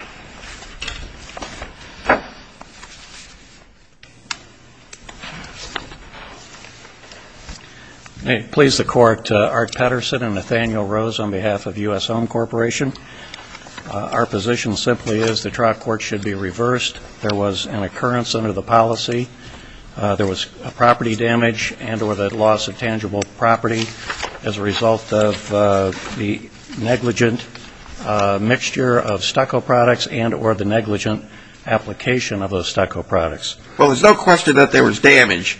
May it please the Court, Art Patterson and Nathaniel Rose on behalf of U.S. Home Corporation. Our position simply is the trial court should be reversed. There was an occurrence under the policy. There was property damage and or the loss of tangible property as a result of the negligent mixture of stucco products and or the negligent application of those stucco products. Well, there's no question that there was damage,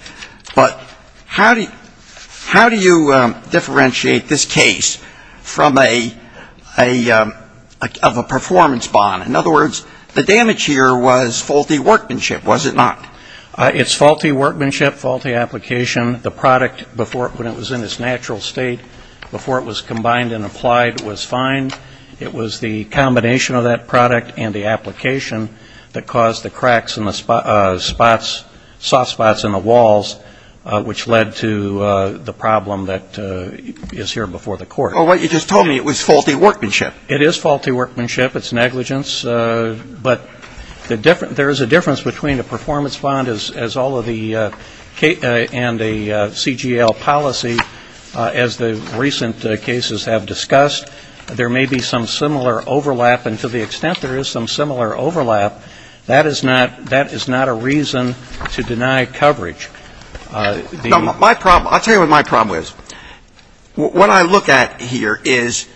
but how do you differentiate this case from a performance bond? In other words, the damage here was faulty workmanship, was it not? It's faulty workmanship, faulty application. The product, when it was in its natural state, before it was combined and applied, was fine. It was the combination of that product and the application that caused the cracks in the spots, soft spots in the walls, which led to the problem that is here before the Court. Well, what you just told me, it was faulty workmanship. It is faulty workmanship. It's negligence. But there is a difference between a performance bond as all of the and the CGL policy, as the recent cases have discussed. There may be some similar overlap, and to the extent there is some similar overlap, that is not a reason to deny coverage. My problem, I'll tell you what my problem is. What I look at here is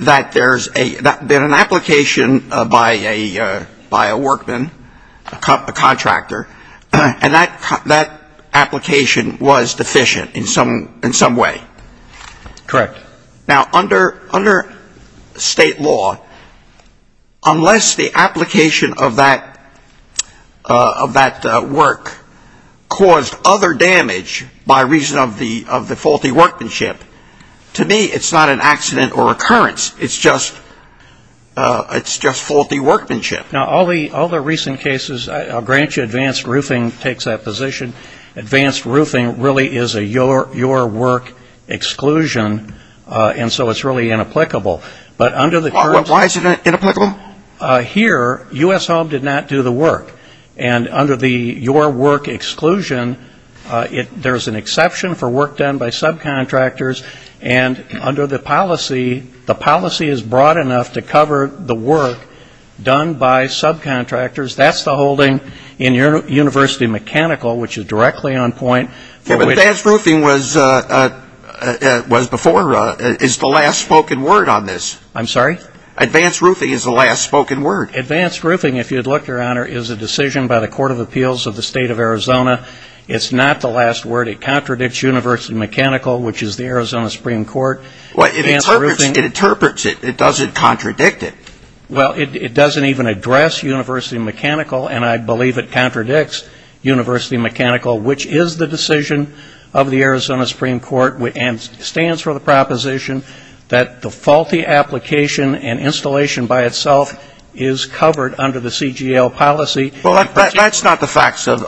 that there's been an application by a workman, a contractor, and that application was deficient in some way. Correct. Now, under state law, unless the application of that work caused other damage by reason of the faulty workmanship, to me, it's not an accident or occurrence. It's just faulty workmanship. Now, all the recent cases, I'll grant you, advanced roofing takes that position. Advanced roofing really is a your work exclusion, and so it's really inapplicable. But under the... Why is it inapplicable? Here, U.S. Home did not do the work. And under the your work exclusion, there's an exception for work done by subcontractors, and under the policy, the policy is broad enough to cover the work done by subcontractors. That's the holding in your University Mechanical, which is directly on point. Yeah, but advanced roofing was before, is the last spoken word on this. I'm sorry? Advanced roofing is the last spoken word. Advanced roofing, if you'd look, Your Honor, is a decision by the Court of Appeals of the state of Arizona. It's not the last word. It contradicts University Mechanical, which is the Arizona Supreme Court. Well, it interprets it. It doesn't contradict it. Well, it doesn't even address University Mechanical, and I believe it contradicts University Mechanical, which is the decision of the Arizona Supreme Court, and stands for the proposition that the faulty application and installation by itself is covered under the CGL policy. Well, that's not the facts of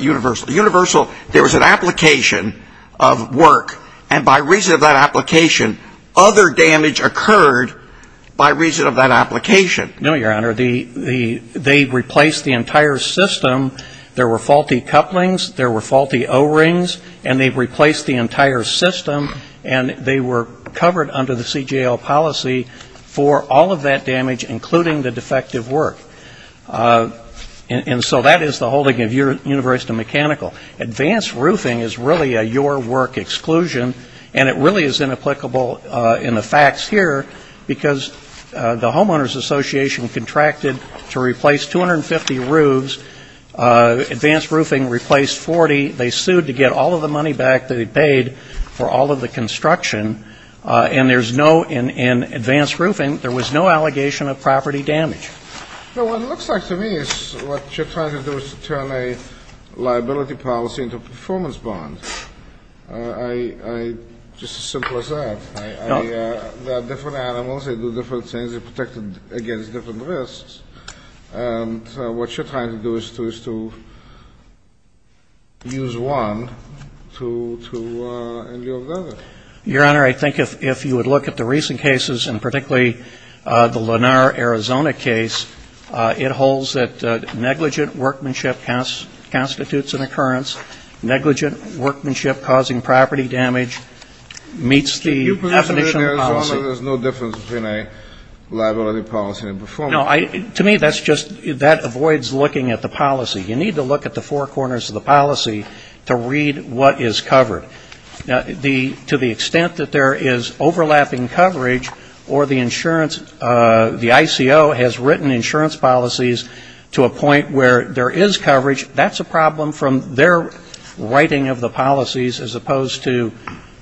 universal. Universal, there was an application of work, and by reason of that application, other damage occurred by reason of that application. No, Your Honor. They replaced the entire system. There were faulty couplings. There were faulty O-rings, and they replaced the entire system, and they were covered under the CGL policy for all of that damage, including the defective work. And so that is the holding of University Mechanical. Advanced roofing is really a your work exclusion, and it really is inapplicable in the facts here because the Homeowners Association contracted to replace 250 roofs. Advanced roofing replaced 40. They sued to get all of the money back that they paid for all of the construction, and there's no ‑‑ in advanced roofing, there was no allegation of property damage. Well, what it looks like to me is what you're trying to do is to turn a liability policy into a performance bond. Just as simple as that. There are different animals. They do different things. They're protected against different risks. And what you're trying to do is to use one to endure the other. Your Honor, I think if you would look at the recent cases, and particularly the Lennar, Arizona case, it holds that negligent workmanship constitutes an occurrence. Negligent workmanship causing property damage meets the definition of policy. But you presume that in Arizona there's no difference between a liability policy and a performance policy. To me, that's just ‑‑ that avoids looking at the policy. You need to look at the four the extent that there is overlapping coverage or the insurance ‑‑ the ICO has written insurance policies to a point where there is coverage. That's a problem from their writing of the policies as opposed to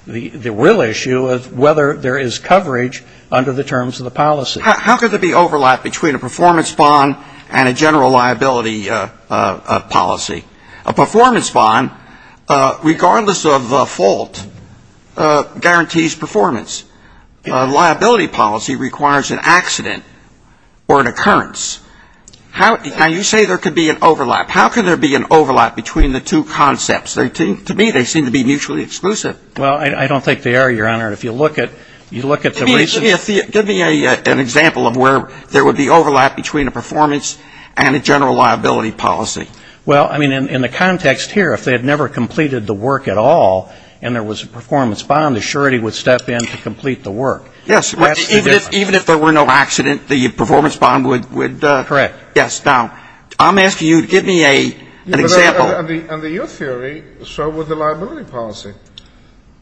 the real issue of whether there is coverage under the terms of the policy. How could there be overlap between a performance bond and a general liability policy? A performance bond, regardless of fault, guarantees performance. A liability policy requires an accident or an occurrence. How ‑‑ now, you say there could be an overlap. How could there be an overlap between the two concepts? To me, they seem to be mutually exclusive. Well, I don't think they are, Your Honor. If you look at the recent ‑‑ Give me an example of where there would be overlap between a performance and a general liability policy. Well, I mean, in the context here, if they had never completed the work at all and there was a performance bond, the surety would step in to complete the work. Yes. That's the difference. Even if there were no accident, the performance bond would ‑‑ Correct. Yes. Now, I'm asking you to give me an example. Under your theory, so would the liability policy.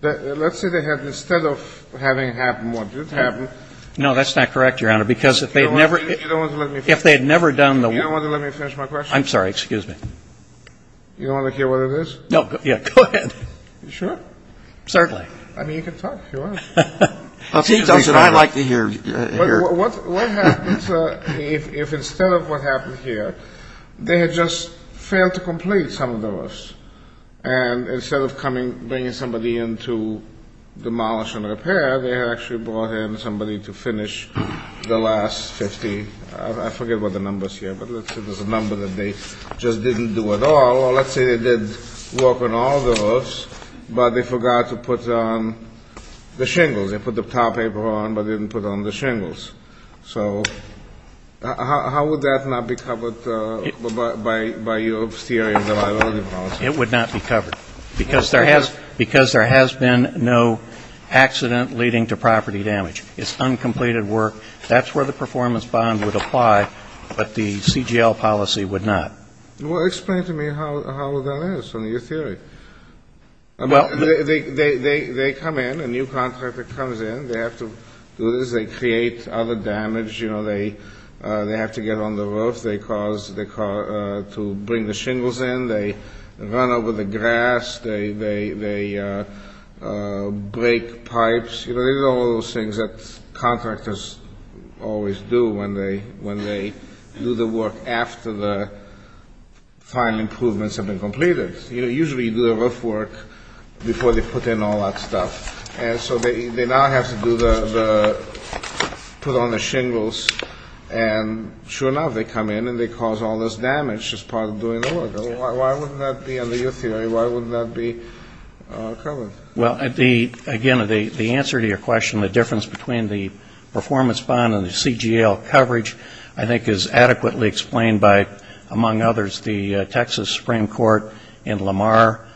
Let's say they had, instead of having it happen what did happen? No, that's not correct, Your Honor, because if they had never ‑‑ You don't want to let me finish? If they had never done the ‑‑ You don't want to let me finish my question? I'm sorry, excuse me. You don't want to hear what it is? No, yeah, go ahead. You sure? Certainly. I mean, you can talk if you want to. Well, he doesn't. I like to hear. What happens if instead of what happened here, they had just failed to complete some of those and instead of coming, bringing somebody in to demolish and repair, they had actually brought in somebody to finish the last 50, I forget what the number is here, but let's say they just didn't do it all, or let's say they did work on all those, but they forgot to put on the shingles. They put the towel paper on, but didn't put on the shingles. So how would that not be covered by your theory of the liability policy? It would not be covered, because there has been no accident leading to property damage. It's uncompleted work. That's where the performance bond would apply, but the CGL policy would not. Well, explain to me how that is from your theory. Well, they come in, a new contractor comes in. They have to do this. They create other damage. They have to get on the roof. They cause the car to bring the shingles in. They run over the grass. They break pipes. These are all those things that contractors always do when they do the work after the final improvements have been completed. Usually you do the roof work before they put in all that stuff. And so they now have to put on the shingles, and sure enough, they come in and they cause all this damage as part of doing the work. Why would that be under your theory? Why would that be covered? Well, again, the answer to your question, the difference between the performance bond and the CGL coverage, I think, is adequately explained by, among others, the Texas Supreme Court in Lamar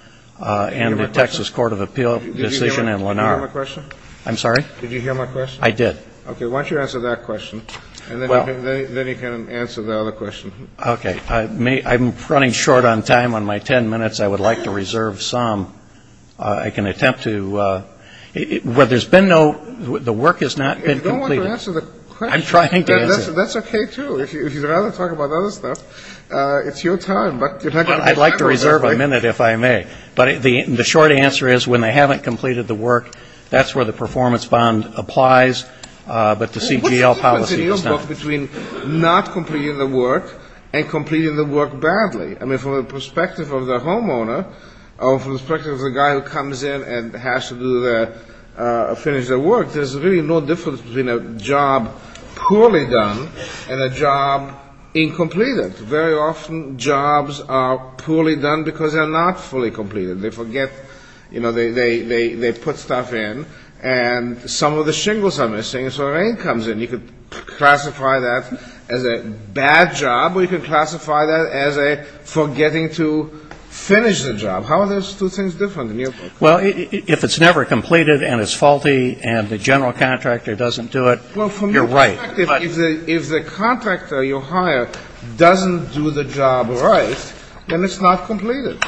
and the Texas Court of Appeal decision in Lamar. Did you hear my question? I'm sorry? Did you hear my question? I did. Okay. Why don't you answer that question, and then you can answer the other question. Okay. I'm running short on time. On my 10 minutes, I would like to reserve some. I can attempt to – well, there's been no – the work has not been completed. I don't want to answer the question. I'm trying to answer it. That's okay, too. If you'd rather talk about other stuff, it's your time. But if I could – I'd like to reserve a minute, if I may. But the short answer is when they haven't completed the work, that's where the performance bond applies. But the CGL policy does not. What's the difference in your book between not completing the work and completing the work badly? I mean, from the perspective of the homeowner or from the perspective of the guy who comes in and has to do the – finish the work, there's really no difference between a job poorly done and a job incompleted. Very often, jobs are poorly done because they're not fully completed. They forget – you know, they put stuff in, and some of the shingles are missing, and so the rain comes in. You could classify that as a bad job, or you could classify that as a forgetting to finish the job. How are those two things different in your book? Well, if it's never completed, and it's faulty, and the general contractor doesn't do it, you're right. Well, from your perspective, if the contractor you hire doesn't do the job right, then it's not completed.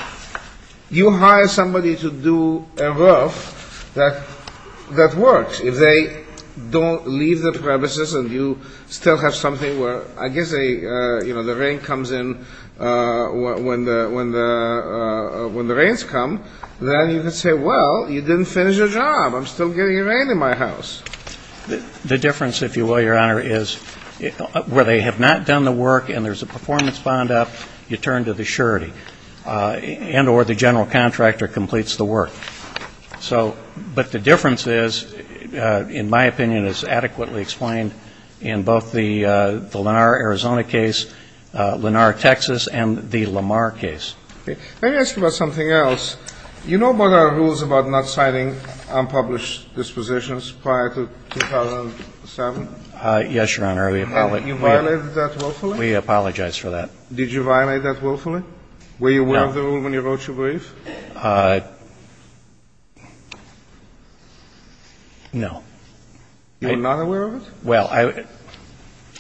You hire somebody to do a roof that works. If they don't leave the premises and you still have something where – I guess they – you know, the rain comes in when the – when the rains come, then you can say, well, you didn't finish your job. I'm still getting rain in my house. The difference, if you will, Your Honor, is where they have not done the work and there's a performance bond up, you turn to the surety, and or the general contractor completes the work. So – but the difference is, in my opinion, is adequately explained in both the Let me ask you about something else. You know about our rules about not signing unpublished dispositions prior to 2007? Yes, Your Honor. We – You violated that willfully? We apologize for that. Did you violate that willfully? No. Were you aware of the rule when you wrote your brief? No. You were not aware of it? Well, I –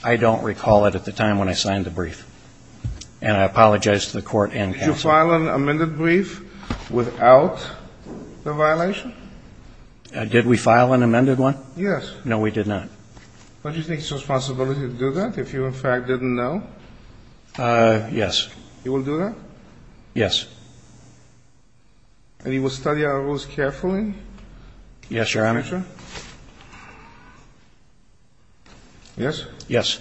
I don't recall it at the time when I signed the brief. And I apologize to the Court and counsel. Did you file an amended brief without the violation? Did we file an amended one? Yes. No, we did not. Don't you think it's your responsibility to do that if you, in fact, didn't know? Yes. You will do that? Yes. And you will study our rules carefully? Yes, Your Honor. In the future? Yes? Yes.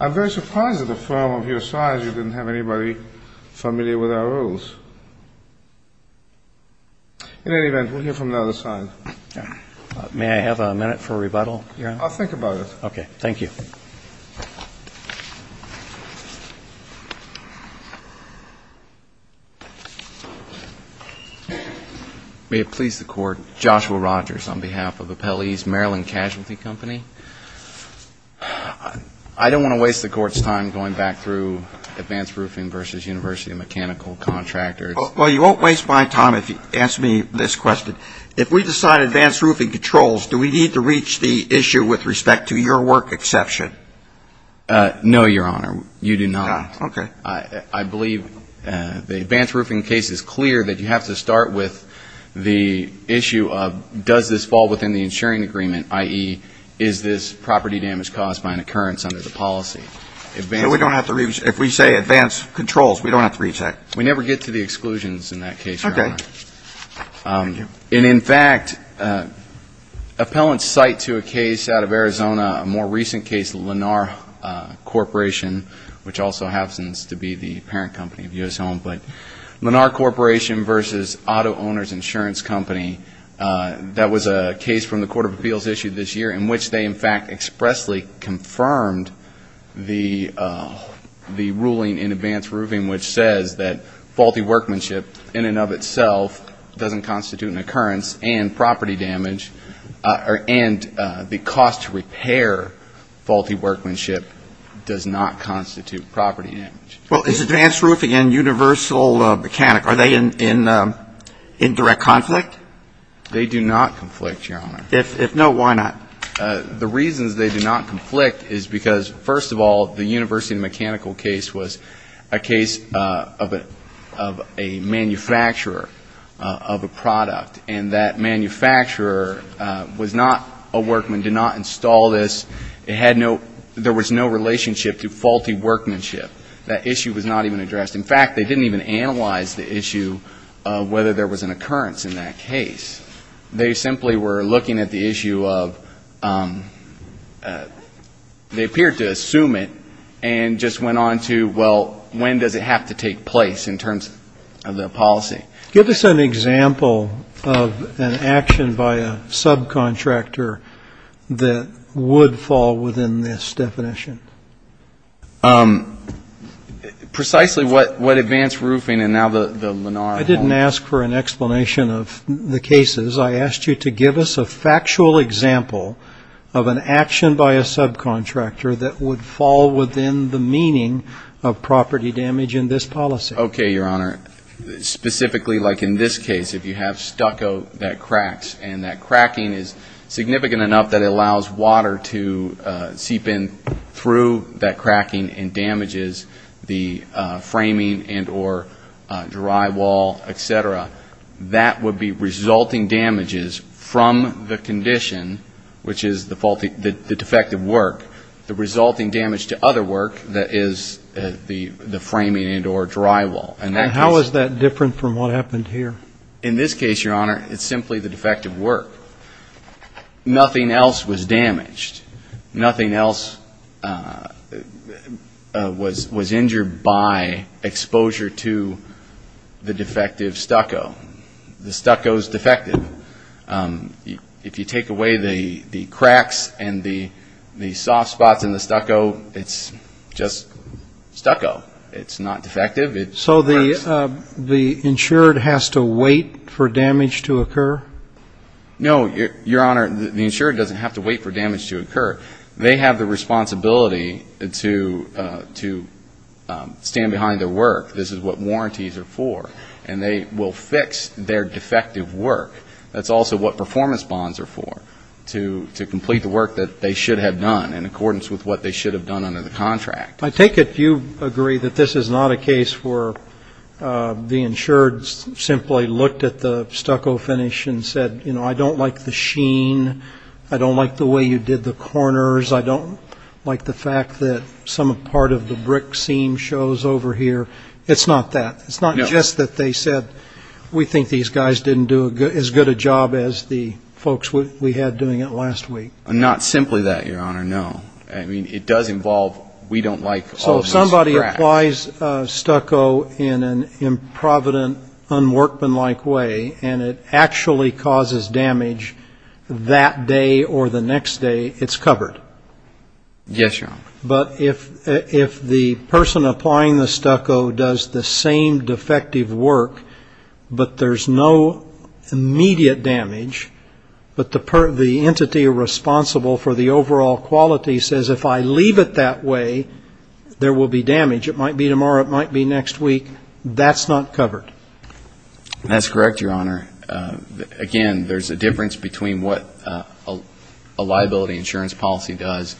I'm very surprised that a firm of your size, you didn't have anybody familiar with our rules. In any event, we'll hear from the other side. May I have a minute for rebuttal? Yes. I'll think about it. Okay. Thank you. May it please the Court, Joshua Rogers on behalf of Appellee's Maryland Casualty Company. I don't want to waste the Court's time going back through advanced roofing versus university mechanical contractors. Well, you won't waste my time if you answer me this question. If we decide advanced roofing controls, do we need to reach the issue with respect to your work exception? No, Your Honor. You do not. Okay. I believe the advanced roofing case is clear that you have to start with the issue of does this fall within the insuring agreement, i.e., is this property damage caused by an occurrence under the policy? If we say advanced controls, we don't have to reach that? We never get to the exclusions in that case, Your Honor. Okay. Thank you. And, in fact, appellants cite to a case out of Arizona, a more recent case, Lenar Corporation, which also happens to be the parent company of U.S. Home, but Lenar Corporation versus Auto Owners Insurance Company. That was a case from the Court of Appeals issued this year in which they, in fact, expressly confirmed the ruling in advanced roofing which says that faulty workmanship in and of itself doesn't constitute an occurrence and property damage and the cost to repair faulty workmanship does not constitute property damage. Well, is advanced roofing and universal mechanic, are they in direct conflict? They do not conflict, Your Honor. If no, why not? The reasons they do not conflict is because, first of all, the universal mechanical case was a case of a manufacturer of a product, and that manufacturer was not a workman, did not install this. It had no, there was no relationship to faulty workmanship. That issue was not even addressed. In fact, they didn't even analyze the issue of whether there was an occurrence in that case. They simply were looking at the issue of, they appeared to assume it and just went on to, well, when does it have to take place in terms of the policy? Give us an example of an action by a subcontractor that would fall within this definition. Precisely what advanced roofing and now the Lenar Home. I didn't ask for an explanation of the cases. I asked you to give us a factual example of an action by a subcontractor that would fall within the meaning of property damage in this policy. Okay, Your Honor. Specifically, like in this case, if you have stucco that cracks, and that cracking is significant enough that it allows water to seep in through that cracking and damages the framing and or drywall, et cetera, that would be resulting damages from the condition, which is the defective work. The resulting damage to other work is the framing and or drywall. And how is that different from what happened here? In this case, Your Honor, it's simply the defective work. Nothing else was damaged. Nothing else was injured by exposure to the defective stucco. The stucco is defective. If you take away the cracks and the soft spots in the stucco, it's just stucco. It's not defective. So the insured has to wait for damage to occur? No, Your Honor. The insured doesn't have to wait for damage to occur. They have the responsibility to stand behind their work. This is what warranties are for. And they will fix their defective work. That's also what performance bonds are for, to complete the work that they should have done in accordance with what they should have done under the contract. I take it you agree that this is not a case where the insured simply looked at the stucco finish and said, you know, I don't like the sheen. I don't like the way you did the corners. I don't like the fact that some part of the brick seam shows over here. It's not that. It's not just that they said we think these guys didn't do as good a job as the folks we had doing it last week. Not simply that, Your Honor, no. I mean, it does involve we don't like all of this crap. So if somebody applies stucco in an improvident, unworkmanlike way, and it actually causes damage that day or the next day, it's covered? Yes, Your Honor. But if the person applying the stucco does the same defective work, but there's no immediate damage, but the entity responsible for the overall quality says, if I leave it that way, there will be damage. It might be tomorrow. It might be next week. That's not covered. That's correct, Your Honor. Again, there's a difference between what a liability insurance policy does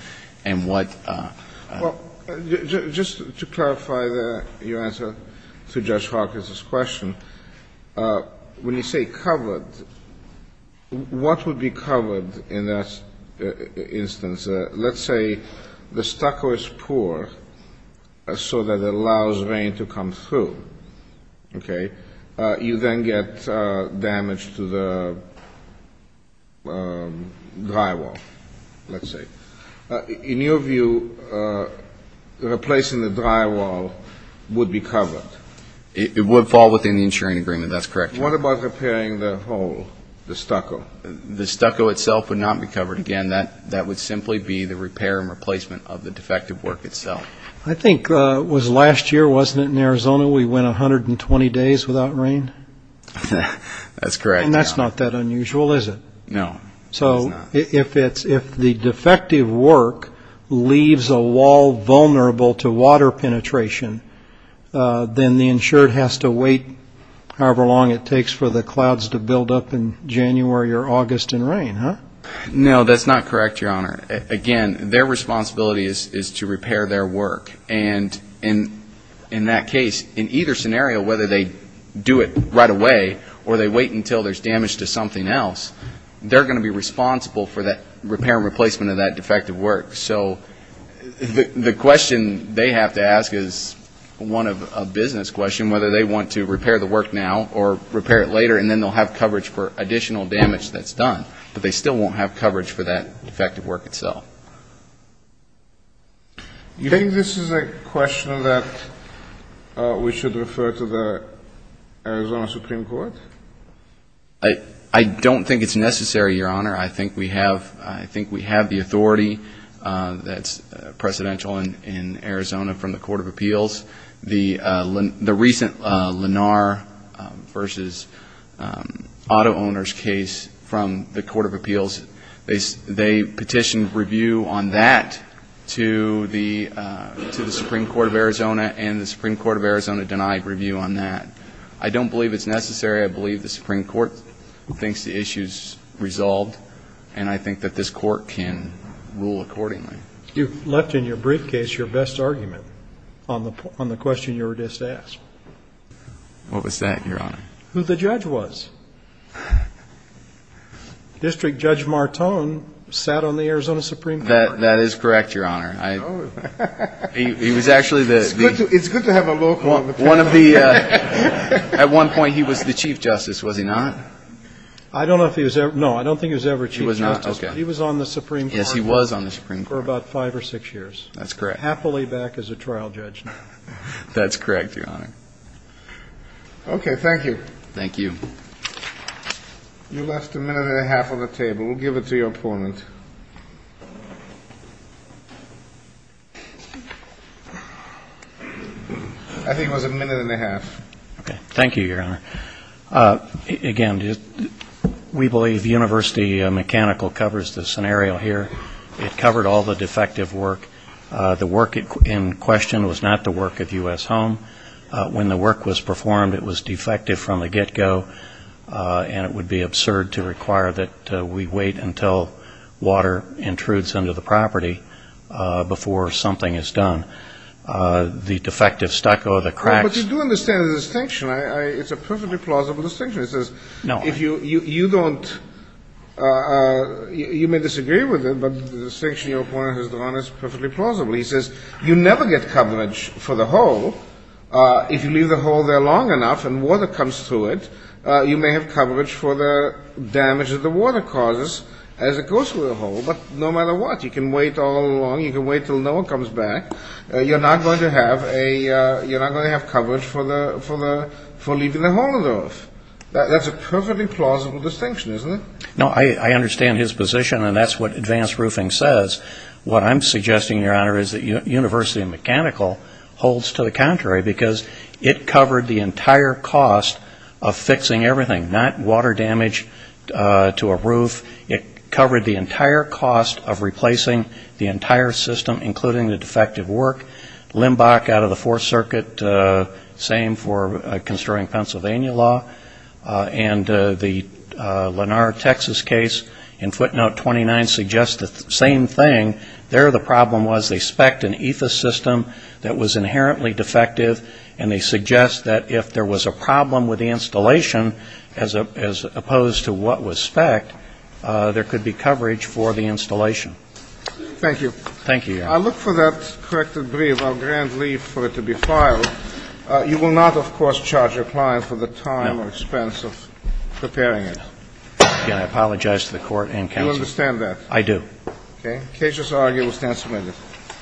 and what ---- Just to clarify your answer to Judge Hawkins' question, when you say covered, what would be covered in that instance? Let's say the stucco is poor so that it allows rain to come through. Okay? You then get damage to the drywall, let's say. In your view, replacing the drywall would be covered? It would fall within the insuring agreement. That's correct, Your Honor. What about repairing the hole, the stucco? The stucco itself would not be covered. Again, that would simply be the repair and replacement of the defective work itself. I think it was last year, wasn't it, in Arizona we went 120 days without rain? That's correct, Your Honor. And that's not that unusual, is it? No, it's not. So if the defective work leaves a wall vulnerable to water penetration, then the insured has to wait however long it takes for the clouds to build up in January or August in rain, huh? No, that's not correct, Your Honor. Again, their responsibility is to repair their work. And in that case, in either scenario, whether they do it right away or they wait until there's damage to something else, they're going to be responsible for that repair and replacement of that defective work. So the question they have to ask is one of a business question, whether they want to repair the work now or repair it later, and then they'll have coverage for additional damage that's done, but they still won't have coverage for that defective work itself. You think this is a question that we should refer to the Arizona Supreme Court? I don't think it's necessary, Your Honor. I think we have the authority that's presidential in Arizona from the Court of Appeals. The recent Lenar v. Auto Owners case from the Court of Appeals, they petitioned review on that to the Supreme Court of Arizona, and the Supreme Court of Arizona denied review on that. I don't believe it's necessary. I believe the Supreme Court thinks the issue's resolved, and I think that this Court can rule accordingly. You left in your briefcase your best argument on the question you were just asked. What was that, Your Honor? Who the judge was. District Judge Martone sat on the Arizona Supreme Court. That is correct, Your Honor. He was actually the one of the at one point he was the chief justice, was he not? I don't know if he was ever. No, I don't think he was ever chief justice, but he was on the Supreme Court. Yes, he was on the Supreme Court. For about five or six years. That's correct. Happily back as a trial judge now. That's correct, Your Honor. Okay, thank you. Thank you. You left a minute and a half on the table. We'll give it to your opponent. I think it was a minute and a half. Thank you, Your Honor. Again, we believe University Mechanical covers the scenario here. It covered all the defective work. The work in question was not the work of U.S. Home. When the work was performed, it was defective from the get-go, and it would be absurd to require that we wait until water intrudes into the property before something is done. The defective stucco, the cracks. But you do understand the distinction. It's a perfectly plausible distinction. It says if you don't, you may disagree with it, but the distinction your opponent has drawn is perfectly plausible. He says you never get coverage for the hole. If you leave the hole there long enough and water comes through it, you may have coverage for the damage that the water causes as it goes through the hole. But no matter what, you can wait all along. You can wait until no one comes back. You're not going to have coverage for leaving the hole in the roof. That's a perfectly plausible distinction, isn't it? No, I understand his position, and that's what advanced roofing says. What I'm suggesting, Your Honor, is that University of Mechanical holds to the contrary because it covered the entire cost of fixing everything, not water damage to a roof. It covered the entire cost of replacing the entire system, including the defective work. Limbach out of the Fourth Circuit, same for construing Pennsylvania law. And the Lenar, Texas case in footnote 29 suggests the same thing. There the problem was they spec'd an EFA system that was inherently defective, and they suggest that if there was a problem with the installation as opposed to what was spec'd, there could be coverage for the installation. Thank you. Thank you, Your Honor. I look for that corrected brief. I'll grant leave for it to be filed. You will not, of course, charge your client for the time or expense of preparing it. No. Again, I apologize to the Court and counsel. You understand that? I do. Okay. The case is argued. We'll stand submitted.